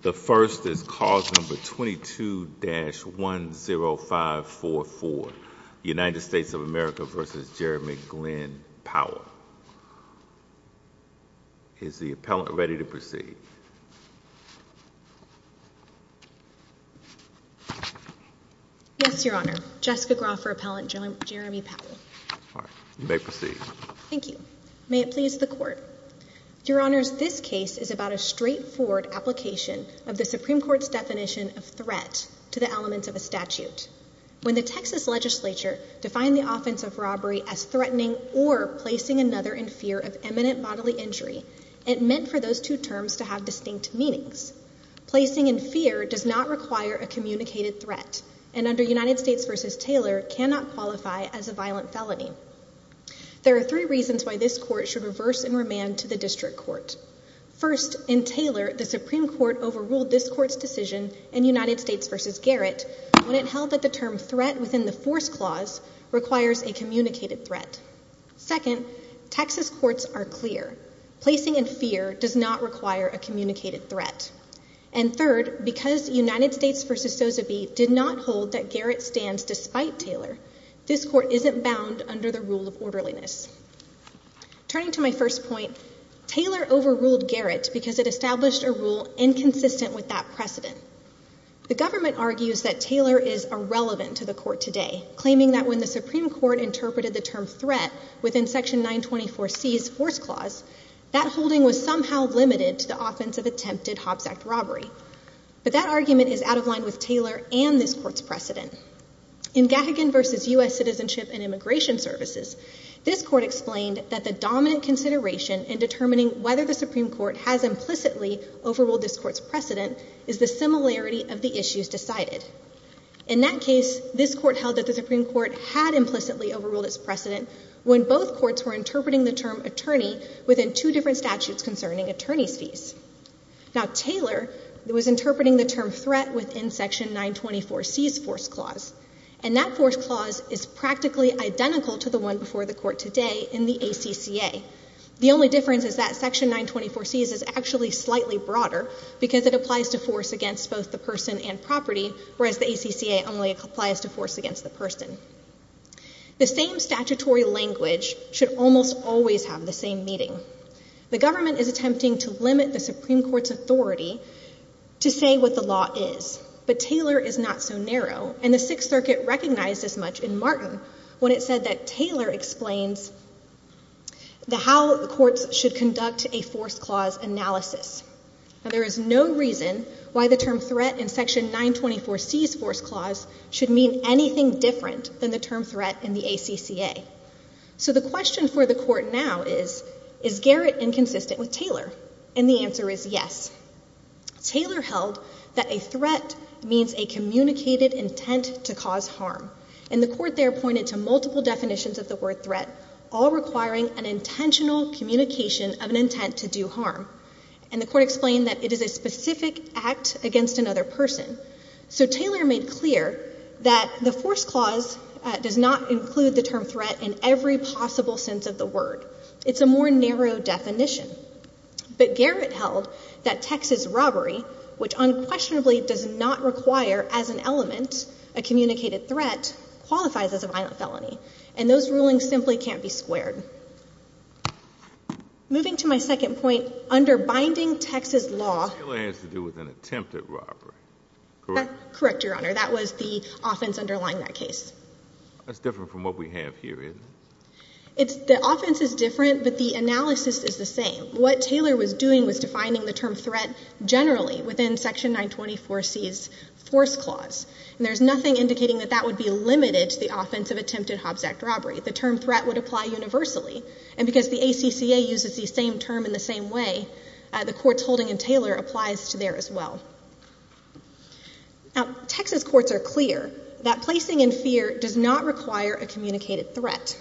The first is cause number 22-10544, United States of America v. Jeremy Glenn Powell. Is the appellant ready to proceed? Yes, Your Honor, Jessica Groffer, appellant, Jeremy Powell. You may proceed. Thank you. May it please the Court. Your Honors, this case is about a straightforward application of the Supreme Court's definition of threat to the elements of a statute. When the Texas legislature defined the offense of robbery as threatening or placing another in fear of imminent bodily injury, it meant for those two terms to have distinct meanings. Placing in fear does not require a communicated threat, and under United States v. Taylor, cannot qualify as a violent felony. There are three reasons why this Court should reverse and remand to the District Court. First, in Taylor, the Supreme Court overruled this Court's decision in United States v. Garrett when it held that the term threat within the force clause requires a communicated threat. Second, Texas courts are clear. Placing in fear does not require a communicated threat. And third, because United States v. Sozeby did not hold that Garrett stands despite Taylor, this Court isn't bound under the rule of orderliness. Turning to my first point, Taylor overruled Garrett because it established a rule inconsistent with that precedent. The government argues that Taylor is irrelevant to the Court today, claiming that when the Supreme Court interpreted the term threat within Section 924C's force clause, that holding was somehow limited to the offense of attempted Hobbs Act robbery. In Gagagan v. U.S. Citizenship and Immigration Services, this Court explained that the dominant consideration in determining whether the Supreme Court has implicitly overruled this Court's precedent is the similarity of the issues decided. In that case, this Court held that the Supreme Court had implicitly overruled its precedent when both courts were interpreting the term attorney within two different statutes concerning attorney's fees. Now Taylor was interpreting the term threat within Section 924C's force clause, and that force clause is practically identical to the one before the Court today in the ACCA. The only difference is that Section 924C's is actually slightly broader because it applies to force against both the person and property, whereas the ACCA only applies to force against the person. The same statutory language should almost always have the same meaning. The government is attempting to limit the Supreme Court's authority to say what the law is, but Taylor is not so narrow, and the Sixth Circuit recognized this much in Martin when it said that Taylor explains how courts should conduct a force clause analysis. There is no reason why the term threat in Section 924C's force clause should mean anything different than the term threat in the ACCA. So the question for the Court now is, is Garrett inconsistent with Taylor? And the answer is yes. Taylor held that a threat means a communicated intent to cause harm, and the Court there pointed to multiple definitions of the word threat, all requiring an intentional communication of an intent to do harm. And the Court explained that it is a specific act against another person. So Taylor made clear that the force clause does not include the term threat in every possible sense of the word. It's a more narrow definition. But Garrett held that Texas robbery, which unquestionably does not require as an element a communicated threat, qualifies as a violent felony, and those rulings simply can't be squared. Moving to my second point, under binding Texas law— Correct? Correct, Your Honor. That was the offense underlying that case. That's different from what we have here, isn't it? The offense is different, but the analysis is the same. What Taylor was doing was defining the term threat generally within Section 924C's force clause. And there's nothing indicating that that would be limited to the offense of attempted Hobbs Act robbery. The term threat would apply universally. And because the ACCA uses the same term in the same way, the court's holding in Taylor applies to there as well. Now, Texas courts are clear that placing in fear does not require a communicated threat.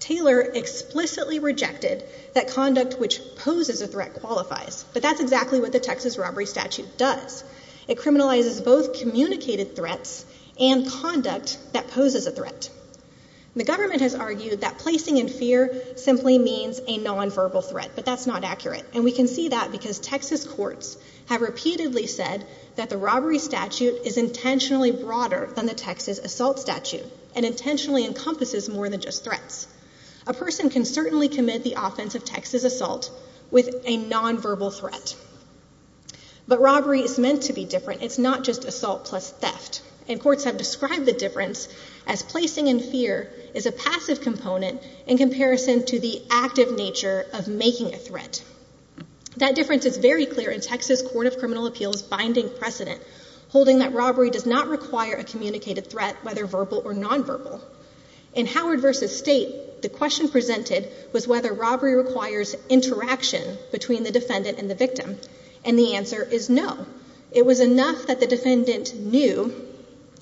Taylor explicitly rejected that conduct which poses a threat qualifies, but that's exactly what the Texas robbery statute does. It criminalizes both communicated threats and conduct that poses a threat. The government has argued that placing in fear simply means a nonverbal threat, but that's not accurate. And we can see that because Texas courts have repeatedly said that the robbery statute is intentionally broader than the Texas assault statute and intentionally encompasses more than just threats. A person can certainly commit the offense of Texas assault with a nonverbal threat. But robbery is meant to be different. It's not just assault plus theft. And courts have described the difference as placing in fear is a passive component in That difference is very clear in Texas Court of Criminal Appeals' binding precedent, holding that robbery does not require a communicated threat, whether verbal or nonverbal. In Howard v. State, the question presented was whether robbery requires interaction between the defendant and the victim. And the answer is no. It was enough that the defendant knew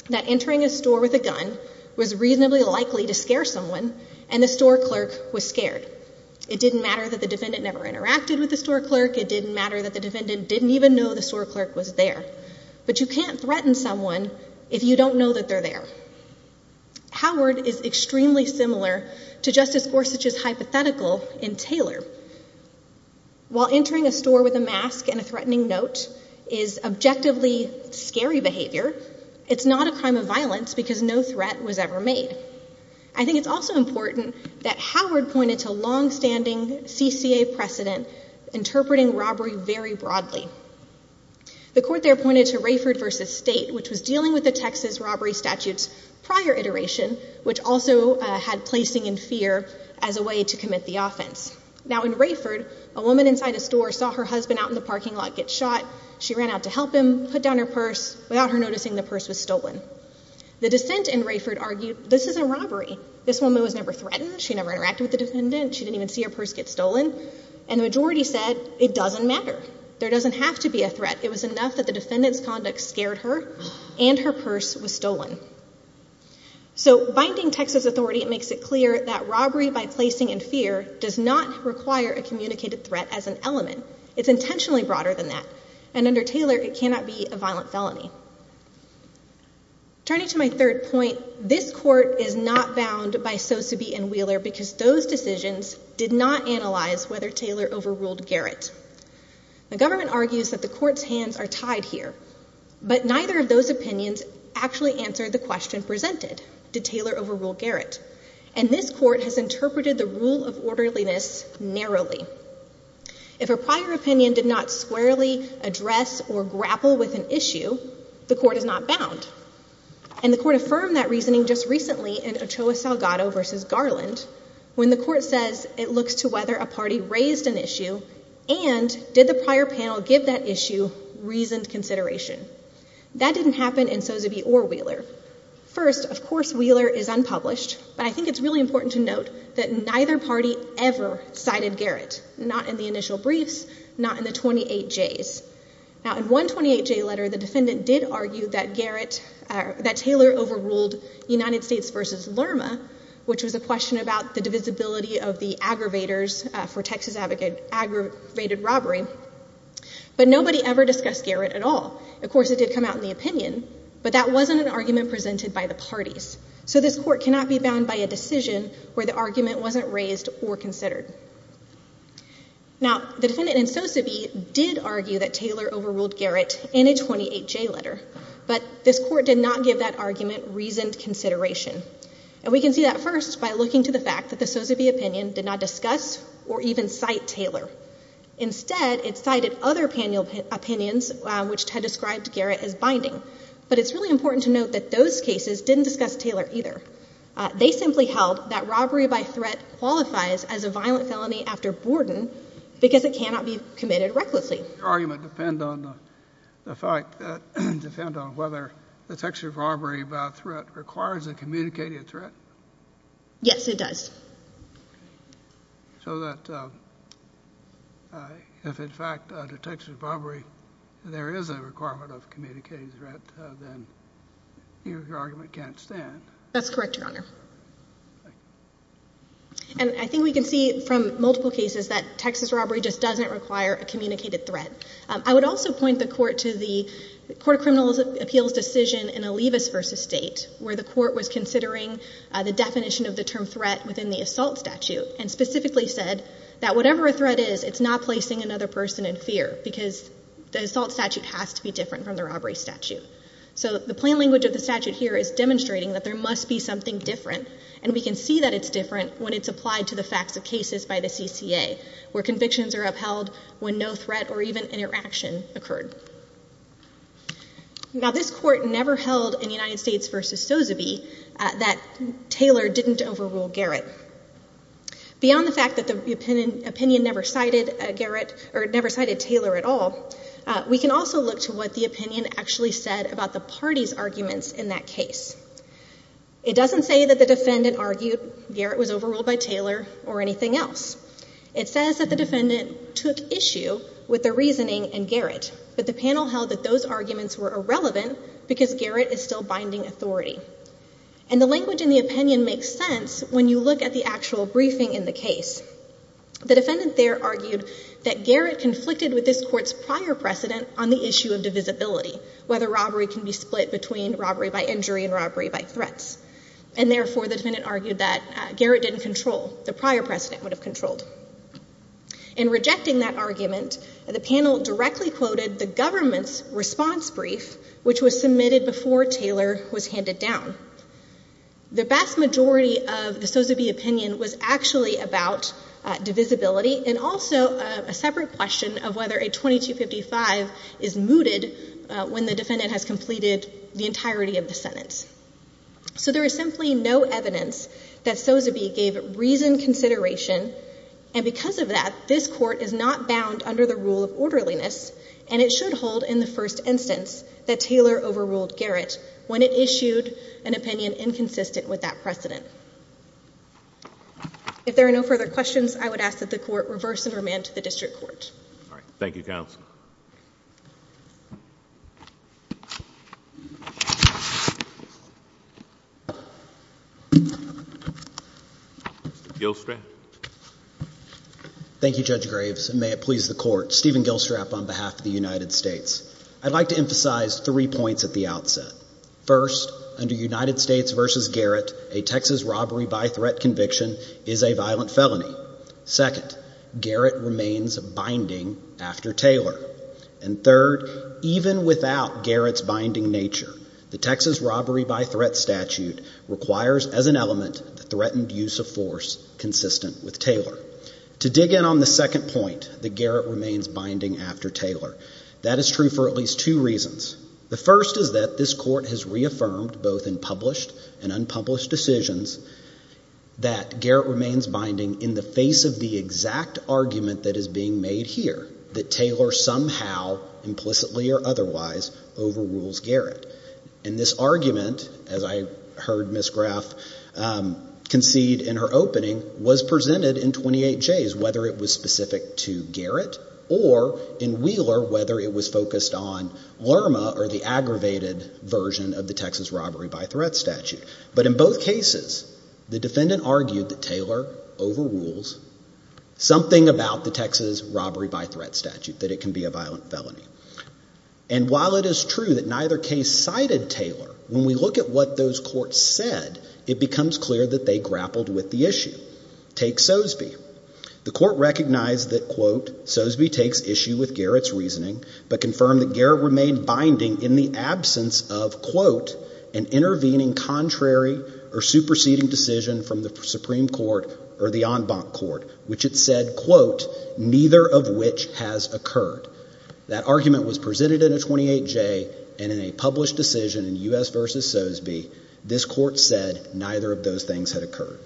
that entering a store with a gun was reasonably likely to scare someone, and the store clerk was scared. It didn't matter that the defendant never interacted with the store clerk. It didn't matter that the defendant didn't even know the store clerk was there. But you can't threaten someone if you don't know that they're there. Howard is extremely similar to Justice Gorsuch's hypothetical in Taylor. While entering a store with a mask and a threatening note is objectively scary behavior, it's not a crime of violence because no threat was ever made. I think it's also important that Howard pointed to long-standing CCA precedent interpreting robbery very broadly. The court there pointed to Rayford v. State, which was dealing with the Texas robbery statute's prior iteration, which also had placing in fear as a way to commit the offense. Now in Rayford, a woman inside a store saw her husband out in the parking lot get shot. She ran out to help him, put down her purse, without her noticing the purse was stolen. The dissent in Rayford argued, this isn't robbery. This woman was never threatened. She never interacted with the defendant. She didn't even see her purse get stolen. And the majority said, it doesn't matter. There doesn't have to be a threat. It was enough that the defendant's conduct scared her and her purse was stolen. So binding Texas authority makes it clear that robbery by placing in fear does not require a communicated threat as an element. It's intentionally broader than that. And under Taylor, it cannot be a violent felony. Turning to my third point, this court is not bound by Sosebee and Wheeler because those decisions did not analyze whether Taylor overruled Garrett. The government argues that the court's hands are tied here, but neither of those opinions actually answered the question presented, did Taylor overrule Garrett? And this court has interpreted the rule of orderliness narrowly. If a prior opinion did not squarely address or grapple with an issue, the court is not bound. And the court affirmed that reasoning just recently in Ochoa Salgado versus Garland, when the court says it looks to whether a party raised an issue and did the prior panel give that issue reasoned consideration. That didn't happen in Sosebee or Wheeler. First, of course, Wheeler is unpublished, but I think it's really important to note that neither party ever cited Garrett, not in the initial briefs, not in the 28Js. Now, in one 28J letter, the defendant did argue that Taylor overruled United States versus Lerma, which was a question about the divisibility of the aggravators for Texas aggravated robbery. But nobody ever discussed Garrett at all. Of course, it did come out in the opinion, but that wasn't an argument presented by the parties. So this court cannot be bound by a decision where the argument wasn't raised or considered. Now, the defendant in Sosebee did argue that Taylor overruled Garrett in a 28J letter, but this court did not give that argument reasoned consideration. And we can see that first by looking to the fact that the Sosebee opinion did not discuss or even cite Taylor. Instead, it cited other panel opinions which had described Garrett as binding. But it's really important to note that those cases didn't discuss Taylor either. They simply held that robbery by threat qualifies as a violent felony after Borden because it cannot be committed recklessly. Your argument depend on the fact that, depend on whether detection of robbery by threat requires a communicated threat? Yes, it does. Okay. So that if, in fact, a detection of robbery, there is a requirement of a communicated threat, then your argument can't stand? That's correct, Your Honor. And I think we can see from multiple cases that Texas robbery just doesn't require a communicated threat. I would also point the court to the Court of Criminal Appeals decision in Olivas v. State, where the court was considering the definition of the term threat within the assault statute and specifically said that whatever a threat is, it's not placing another person in fear because the assault statute has to be different from the robbery statute. So the plain language of the statute here is demonstrating that there must be something different. And we can see that it's different when it's applied to the facts of cases by the CCA, where convictions are upheld when no threat or even interaction occurred. Now, this court never held in United States v. Sozobe that Taylor didn't overrule Garrett. Beyond the fact that the opinion never cited Garrett or never cited Taylor at all, we can also look to what the opinion actually said about the party's arguments in that case. It doesn't say that the defendant argued Garrett was overruled by Taylor or anything else. It says that the defendant took issue with the reasoning and Garrett. But the panel held that those arguments were irrelevant because Garrett is still binding authority. And the language in the opinion makes sense when you look at the actual briefing in the case. The defendant there argued that Garrett conflicted with this court's prior precedent on the issue of divisibility, whether robbery can be split between robbery by injury and robbery by threats. And therefore, the defendant argued that Garrett didn't control. The prior precedent would have controlled. In rejecting that argument, the panel directly quoted the government's response brief, which was submitted before Taylor was handed down. The vast majority of the Sozobe opinion was actually about divisibility and also a separate question of whether a 2255 is mooted when the defendant has completed the entirety of the sentence. So there is simply no evidence that Sozobe gave reason consideration. And because of that, this court is not bound under the rule of orderliness. And it should hold in the first instance that Taylor overruled Garrett when it issued an opinion inconsistent with that precedent. If there are no further questions, I would ask that the court reverse and remand to the district court. All right. Thank you, counsel. Mr. Gilstrap. Thank you, Judge Graves, and may it please the court. Stephen Gilstrap on behalf of the United States. I'd like to emphasize three points at the outset. First, under United States versus Garrett, a Texas robbery by threat conviction is a violent felony. Second, Garrett remains binding after Taylor. And third, even without Garrett's binding nature, the Texas robbery by threat statute requires as an element the threatened use of force consistent with Taylor. To dig in on the second point, that Garrett remains binding after Taylor. That is true for at least two reasons. The first is that this court has reaffirmed both in published and unpublished decisions that Garrett remains binding in the face of the exact argument that is being made here, that Taylor somehow, implicitly or otherwise, overrules Garrett. And this argument, as I heard Ms. Graff concede in her opening, was presented in 28Js, whether it was specific to Garrett or in Wheeler, whether it was focused on Lerma or the aggravated version of the Texas robbery by threat statute. But in both cases, the defendant argued that Taylor overrules something about the Texas robbery by threat statute, that it can be a violent felony. And while it is true that neither case cited Taylor, when we look at what those courts said, it becomes clear that they grappled with the issue. Take Sosby. The court recognized that, quote, Sosby takes issue with Garrett's reasoning, but confirmed that Garrett remained binding in the absence of, quote, an intervening contrary or superseding decision from the Supreme Court or the en banc court, which it said, quote, neither of which has occurred. That argument was presented in a 28J and in a published decision in U.S. versus Sosby, this court said neither of those things had occurred.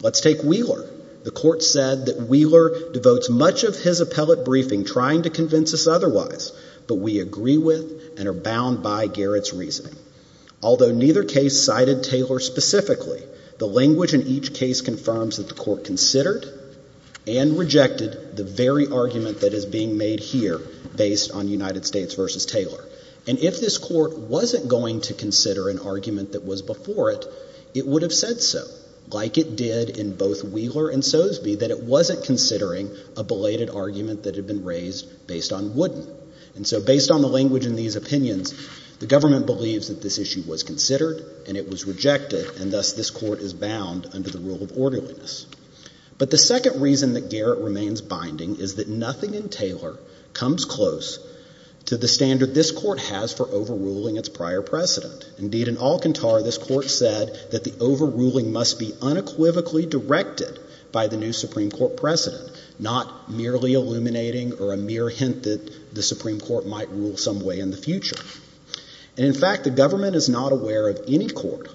Let's take Wheeler. The court said that Wheeler devotes much of his appellate briefing trying to convince us otherwise, but we agree with and are bound by Garrett's reasoning. Although neither case cited Taylor specifically, the language in each case confirms that the court considered and rejected the very argument that is being made here based on United States versus Taylor. And if this court wasn't going to consider an argument that was before it, it would have said so, like it did in both Wheeler and Sosby, that it wasn't considering a belated argument that had been raised based on Wooden. And so based on the language in these opinions, the government believes that this issue was considered and it was rejected, and thus this court is bound under the rule of orderliness. But the second reason that Garrett remains binding is that nothing in Taylor comes close to the standard this court has for overruling its prior precedent. Indeed, in Alcantar, this court said that the overruling must be unequivocally directed by the new Supreme Court precedent, not merely illuminating or a mere hint that the Supreme Court might rule some way in the future. And in fact, the government is not aware of any court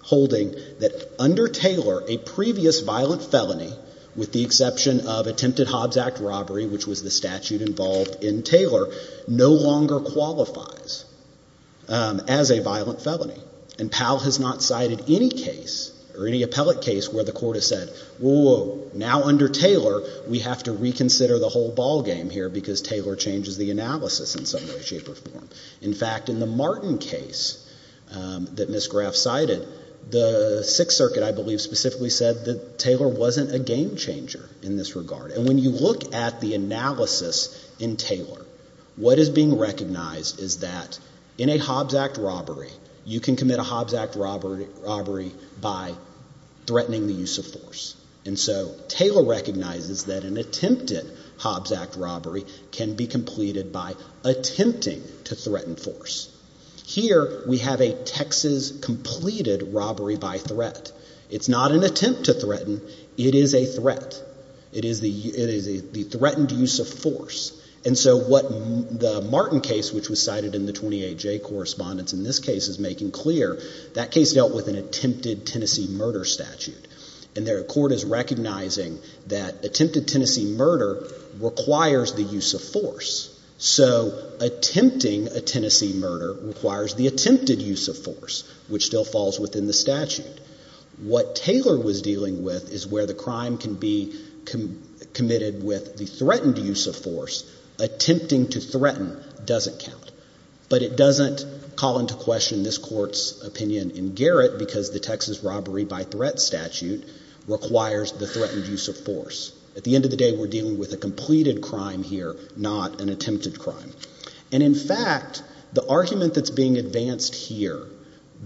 holding that under Taylor, a previous violent felony, with the exception of attempted Hobbs Act robbery, which was the statute involved in Taylor, no longer qualifies as a violent felony. And Powell has not cited any case or any appellate case where the court has said, whoa, now under Taylor, we have to reconsider the whole ballgame here because Taylor changes the analysis in some way, shape, or form. In fact, in the Martin case that Ms. Graff cited, the Sixth Circuit, I believe, specifically said that Taylor wasn't a game changer in this regard. And when you look at the analysis in Taylor, what is being recognized is that in a Hobbs Act robbery, you can commit a Hobbs Act robbery by threatening the use of force. And so Taylor recognizes that an attempted Hobbs Act robbery can be completed by attempting to threaten force. Here, we have a Texas completed robbery by threat. It's not an attempt to threaten. It is a threat. It is the threatened use of force. And so what the Martin case, which was cited in the 28J correspondence in this case is making clear, that case dealt with an attempted Tennessee murder statute. And the court is recognizing that attempted Tennessee murder requires the use of force. So attempting a Tennessee murder requires the attempted use of force, which still falls within the statute. What Taylor was dealing with is where the crime can be committed with the threatened use of force. Attempting to threaten doesn't count. But it doesn't call into question this court's opinion in Garrett, because the Texas robbery by threat statute requires the threatened use of force. At the end of the day, we're dealing with a completed crime here, not an attempted crime. And in fact, the argument that's being advanced here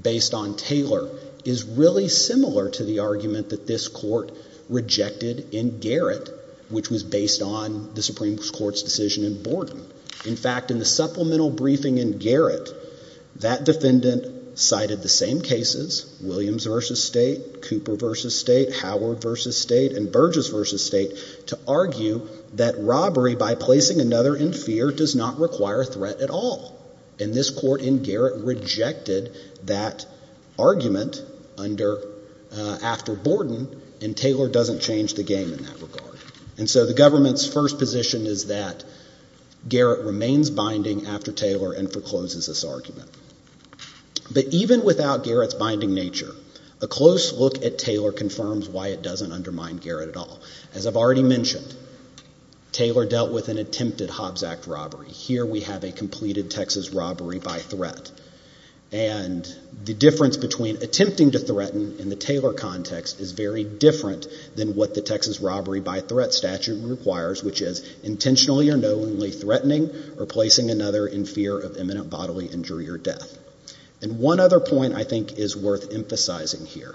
based on Taylor is really similar to the argument that this court rejected in Garrett, which was based on the Supreme Court's decision in Borden. In fact, in the supplemental briefing in Garrett, that defendant cited the same cases, Williams v. State, Cooper v. State, Howard v. State, and Burgess v. State, to argue that robbery by placing another in fear does not require threat at all. And this court in Garrett rejected that argument after Borden, and Taylor doesn't change the game in that regard. And so the government's first position is that Garrett remains binding after Taylor and forecloses this argument. But even without Garrett's binding nature, a close look at Taylor confirms why it doesn't undermine Garrett at all. As I've already mentioned, Taylor dealt with an attempted Hobbs Act robbery. Here we have a completed Texas robbery by threat. And the difference between attempting to threaten in the Taylor context is very different than what the Texas robbery by threat statute requires, which is intentionally or knowingly threatening or placing another in fear of imminent bodily injury or death. And one other point I think is worth emphasizing here.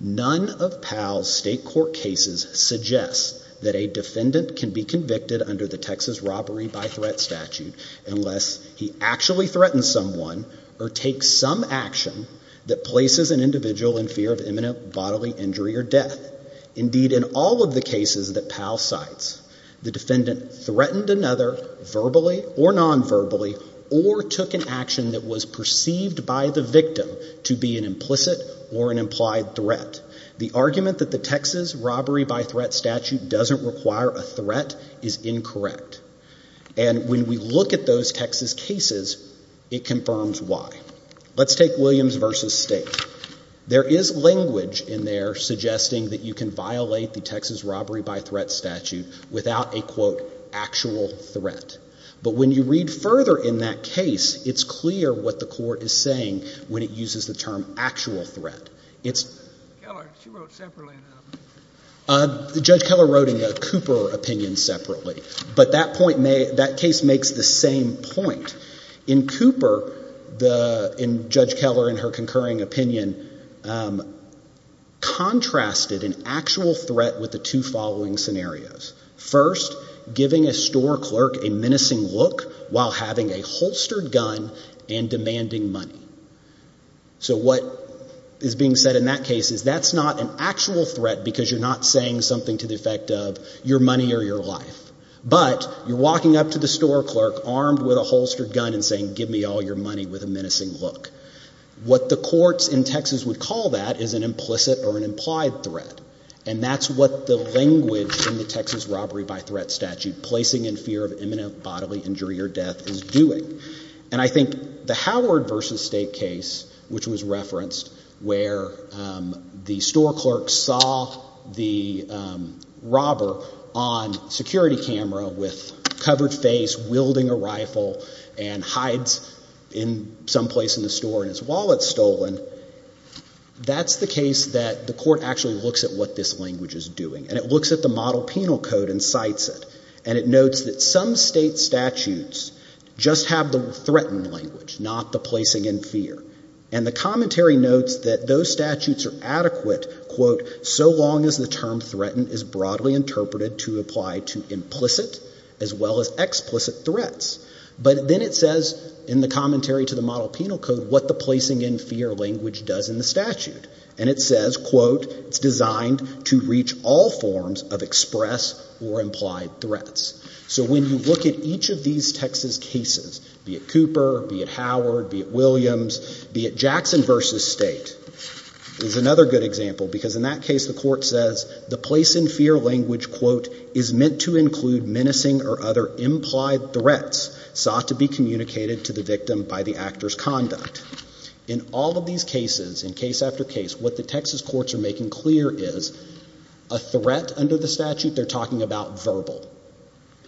None of Powell's state court cases suggests that a defendant can be convicted under the unless he actually threatens someone or takes some action that places an individual in fear of imminent bodily injury or death. Indeed, in all of the cases that Powell cites, the defendant threatened another verbally or nonverbally or took an action that was perceived by the victim to be an implicit or an implied threat. The argument that the Texas robbery by threat statute doesn't require a threat is incorrect. And when we look at those Texas cases, it confirms why. Let's take Williams v. State. There is language in there suggesting that you can violate the Texas robbery by threat statute without a, quote, actual threat. But when you read further in that case, it's clear what the court is saying when it uses the term actual threat. It's... Judge Keller wrote in a Cooper opinion separately. But that case makes the same point. In Cooper, in Judge Keller in her concurring opinion, contrasted an actual threat with the two following scenarios. First, giving a store clerk a menacing look while having a holstered gun and demanding money. So what is being said in that case is that's not an actual threat because you're not saying something to the effect of your money or your life. But you're walking up to the store clerk armed with a holstered gun and saying, give me all your money with a menacing look. What the courts in Texas would call that is an implicit or an implied threat. And that's what the language in the Texas robbery by threat statute, placing in fear of imminent bodily injury or death, is doing. And I think the Howard v. State case, which was referenced where the store clerk saw the covered face wielding a rifle and hides in some place in the store and his wallet's stolen, that's the case that the court actually looks at what this language is doing. And it looks at the model penal code and cites it. And it notes that some state statutes just have the threatened language, not the placing in fear. And the commentary notes that those statutes are adequate, quote, so long as the term as well as explicit threats. But then it says in the commentary to the model penal code what the placing in fear language does in the statute. And it says, quote, it's designed to reach all forms of express or implied threats. So when you look at each of these Texas cases, be it Cooper, be it Howard, be it Williams, be it Jackson v. State is another good example. Because in that case, the court says the place in fear language, quote, is meant to include menacing or other implied threats sought to be communicated to the victim by the actor's conduct. In all of these cases, in case after case, what the Texas courts are making clear is a threat under the statute they're talking about verbal,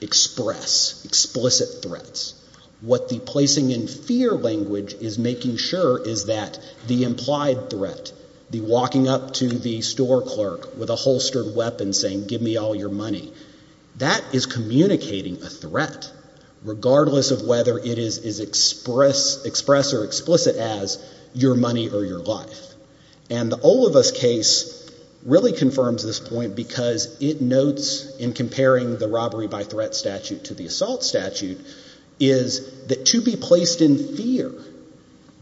express, explicit threats. What the placing in fear language is making sure is that the implied threat, the walking up to the store clerk with a holstered weapon saying, give me all your money, that is communicating a threat regardless of whether it is express or explicit as your money or your life. And the Olivas case really confirms this point because it notes in comparing the robbery by threat statute to the assault statute is that to be placed in fear,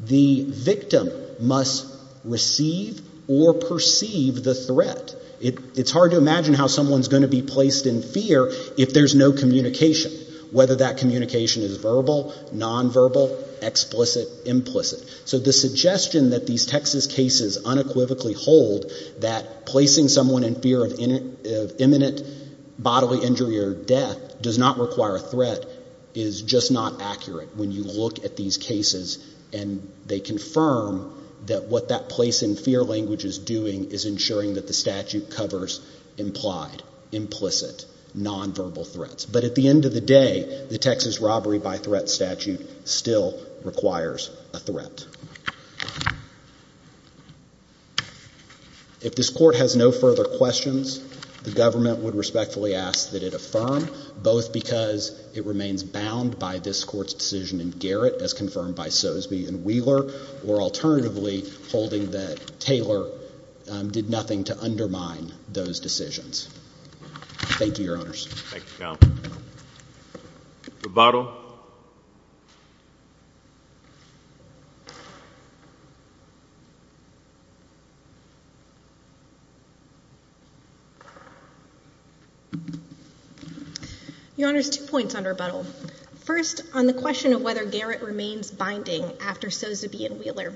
the victim must receive or perceive the threat. It's hard to imagine how someone's going to be placed in fear if there's no communication, whether that communication is verbal, nonverbal, explicit, implicit. So the suggestion that these Texas cases unequivocally hold that placing someone in fear of imminent bodily injury or death does not require a threat is just not accurate when you look at these cases and they confirm that what that place in fear language is doing is ensuring that the statute covers implied, implicit, nonverbal threats. But at the end of the day, the Texas robbery by threat statute still requires a threat. If this court has no further questions, the government would respectfully ask that it affirm, both because it remains bound by this court's decision in Garrett as confirmed by to undermine those decisions. Thank you, Your Honors. Thank you, Counsel. Rebuttal. Your Honors, two points on rebuttal. First, on the question of whether Garrett remains binding after Sozeby and Wheeler,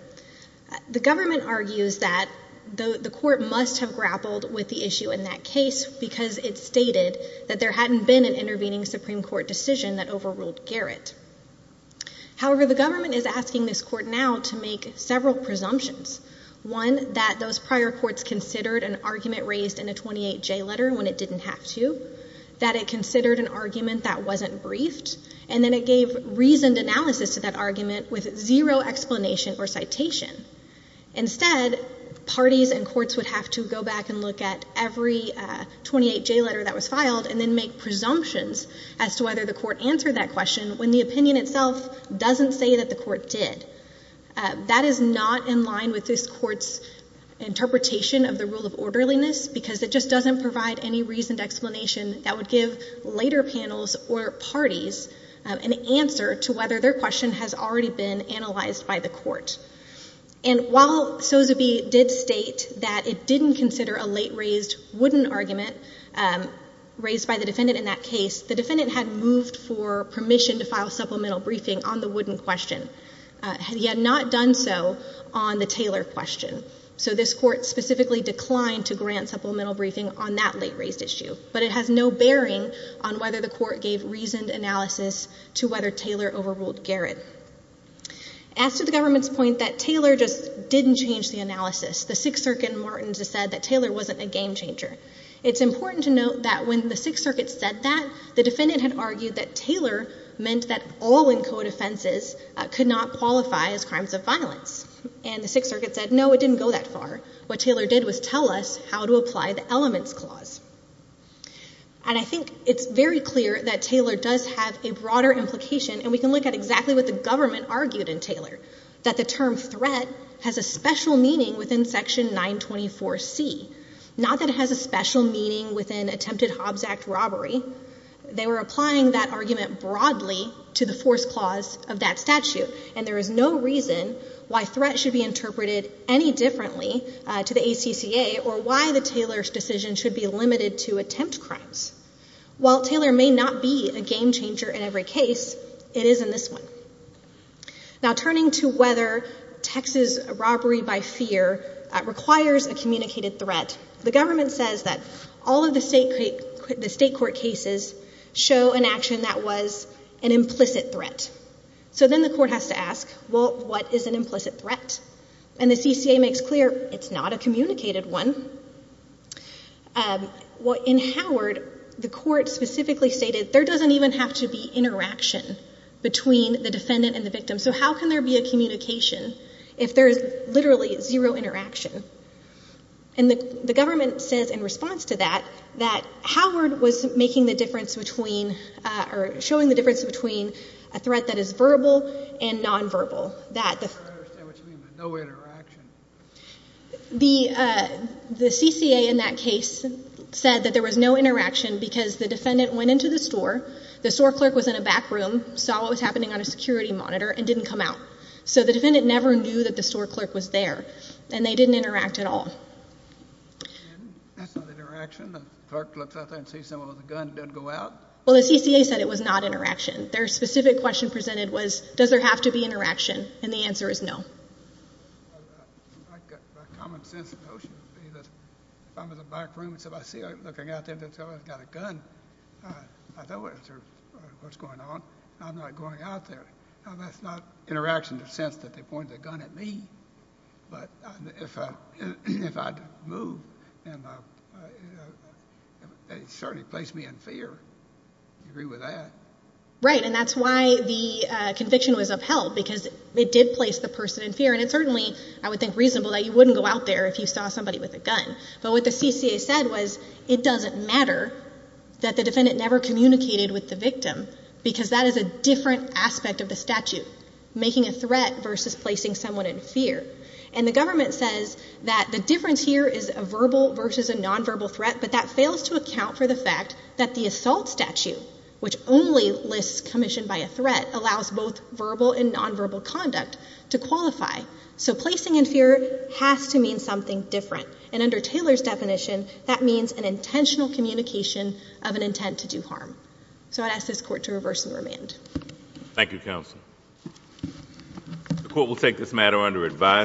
the government argues that the court must have grappled with the issue in that case because it stated that there hadn't been an intervening Supreme Court decision that overruled Garrett. However, the government is asking this court now to make several presumptions. One, that those prior courts considered an argument raised in a 28J letter when it didn't have to, that it considered an argument that wasn't briefed, and then it gave reasoned or citation. Instead, parties and courts would have to go back and look at every 28J letter that was filed and then make presumptions as to whether the court answered that question when the opinion itself doesn't say that the court did. That is not in line with this court's interpretation of the rule of orderliness because it just doesn't provide any reasoned explanation that would give later panels or parties an answer to whether their question has already been analyzed by the court. And while Sozeby did state that it didn't consider a late-raised wooden argument raised by the defendant in that case, the defendant had moved for permission to file supplemental briefing on the wooden question. He had not done so on the Taylor question. So this court specifically declined to grant supplemental briefing on that late-raised issue, but it has no bearing on whether the court gave reasoned analysis to whether Taylor overruled Garrett. As to the government's point that Taylor just didn't change the analysis, the Sixth Circuit in Martins has said that Taylor wasn't a game changer. It's important to note that when the Sixth Circuit said that, the defendant had argued that Taylor meant that all in code offenses could not qualify as crimes of violence. And the Sixth Circuit said, no, it didn't go that far. What Taylor did was tell us how to apply the elements clause. And I think it's very clear that Taylor does have a broader implication. And we can look at exactly what the government argued in Taylor, that the term threat has a special meaning within Section 924C. Not that it has a special meaning within attempted Hobbs Act robbery. They were applying that argument broadly to the force clause of that statute. And there is no reason why threat should be interpreted any differently to the ACCA or why the Taylor's decision should be limited to attempt crimes. While Taylor may not be a game changer in every case, it is in this one. Now, turning to whether Texas robbery by fear requires a communicated threat, the government says that all of the state court cases show an action that was an implicit threat. So then the court has to ask, well, what is an implicit threat? And the CCA makes clear, it's not a communicated one. In Howard, the court specifically stated, there doesn't even have to be interaction between the defendant and the victim. So how can there be a communication if there is literally zero interaction? And the government says in response to that, that Howard was making the difference between, or showing the difference between a threat that is verbal and nonverbal. I don't understand what you mean by no interaction. The CCA in that case said that there was no interaction because the defendant went into the store. The store clerk was in a back room, saw what was happening on a security monitor, and didn't come out. So the defendant never knew that the store clerk was there. And they didn't interact at all. That's not interaction. The clerk looks out there and sees someone with a gun and doesn't go out? Well, the CCA said it was not interaction. Their specific question presented was, does there have to be interaction? And the answer is no. I think a common sense notion would be that if I'm in the back room and somebody's looking out there and says, oh, I've got a gun, I don't answer what's going on. I'm not going out there. That's not interaction in the sense that they point the gun at me. But if I move, they certainly place me in fear. Do you agree with that? Right. And that's why the conviction was upheld, because it did place the person in fear. And it's certainly, I would think, reasonable that you wouldn't go out there if you saw somebody with a gun. But what the CCA said was, it doesn't matter that the defendant never communicated with the victim, because that is a different aspect of the statute, making a threat versus placing someone in fear. And the government says that the difference here is a verbal versus a nonverbal threat. But that fails to account for the fact that the assault statute, which only lists commission by a threat, allows both verbal and nonverbal conduct to qualify. So placing in fear has to mean something different. And under Taylor's definition, that means an intentional communication of an intent to do harm. So I'd ask this Court to reverse and remand. Thank you, Counsel. The Court will take this matter under advice.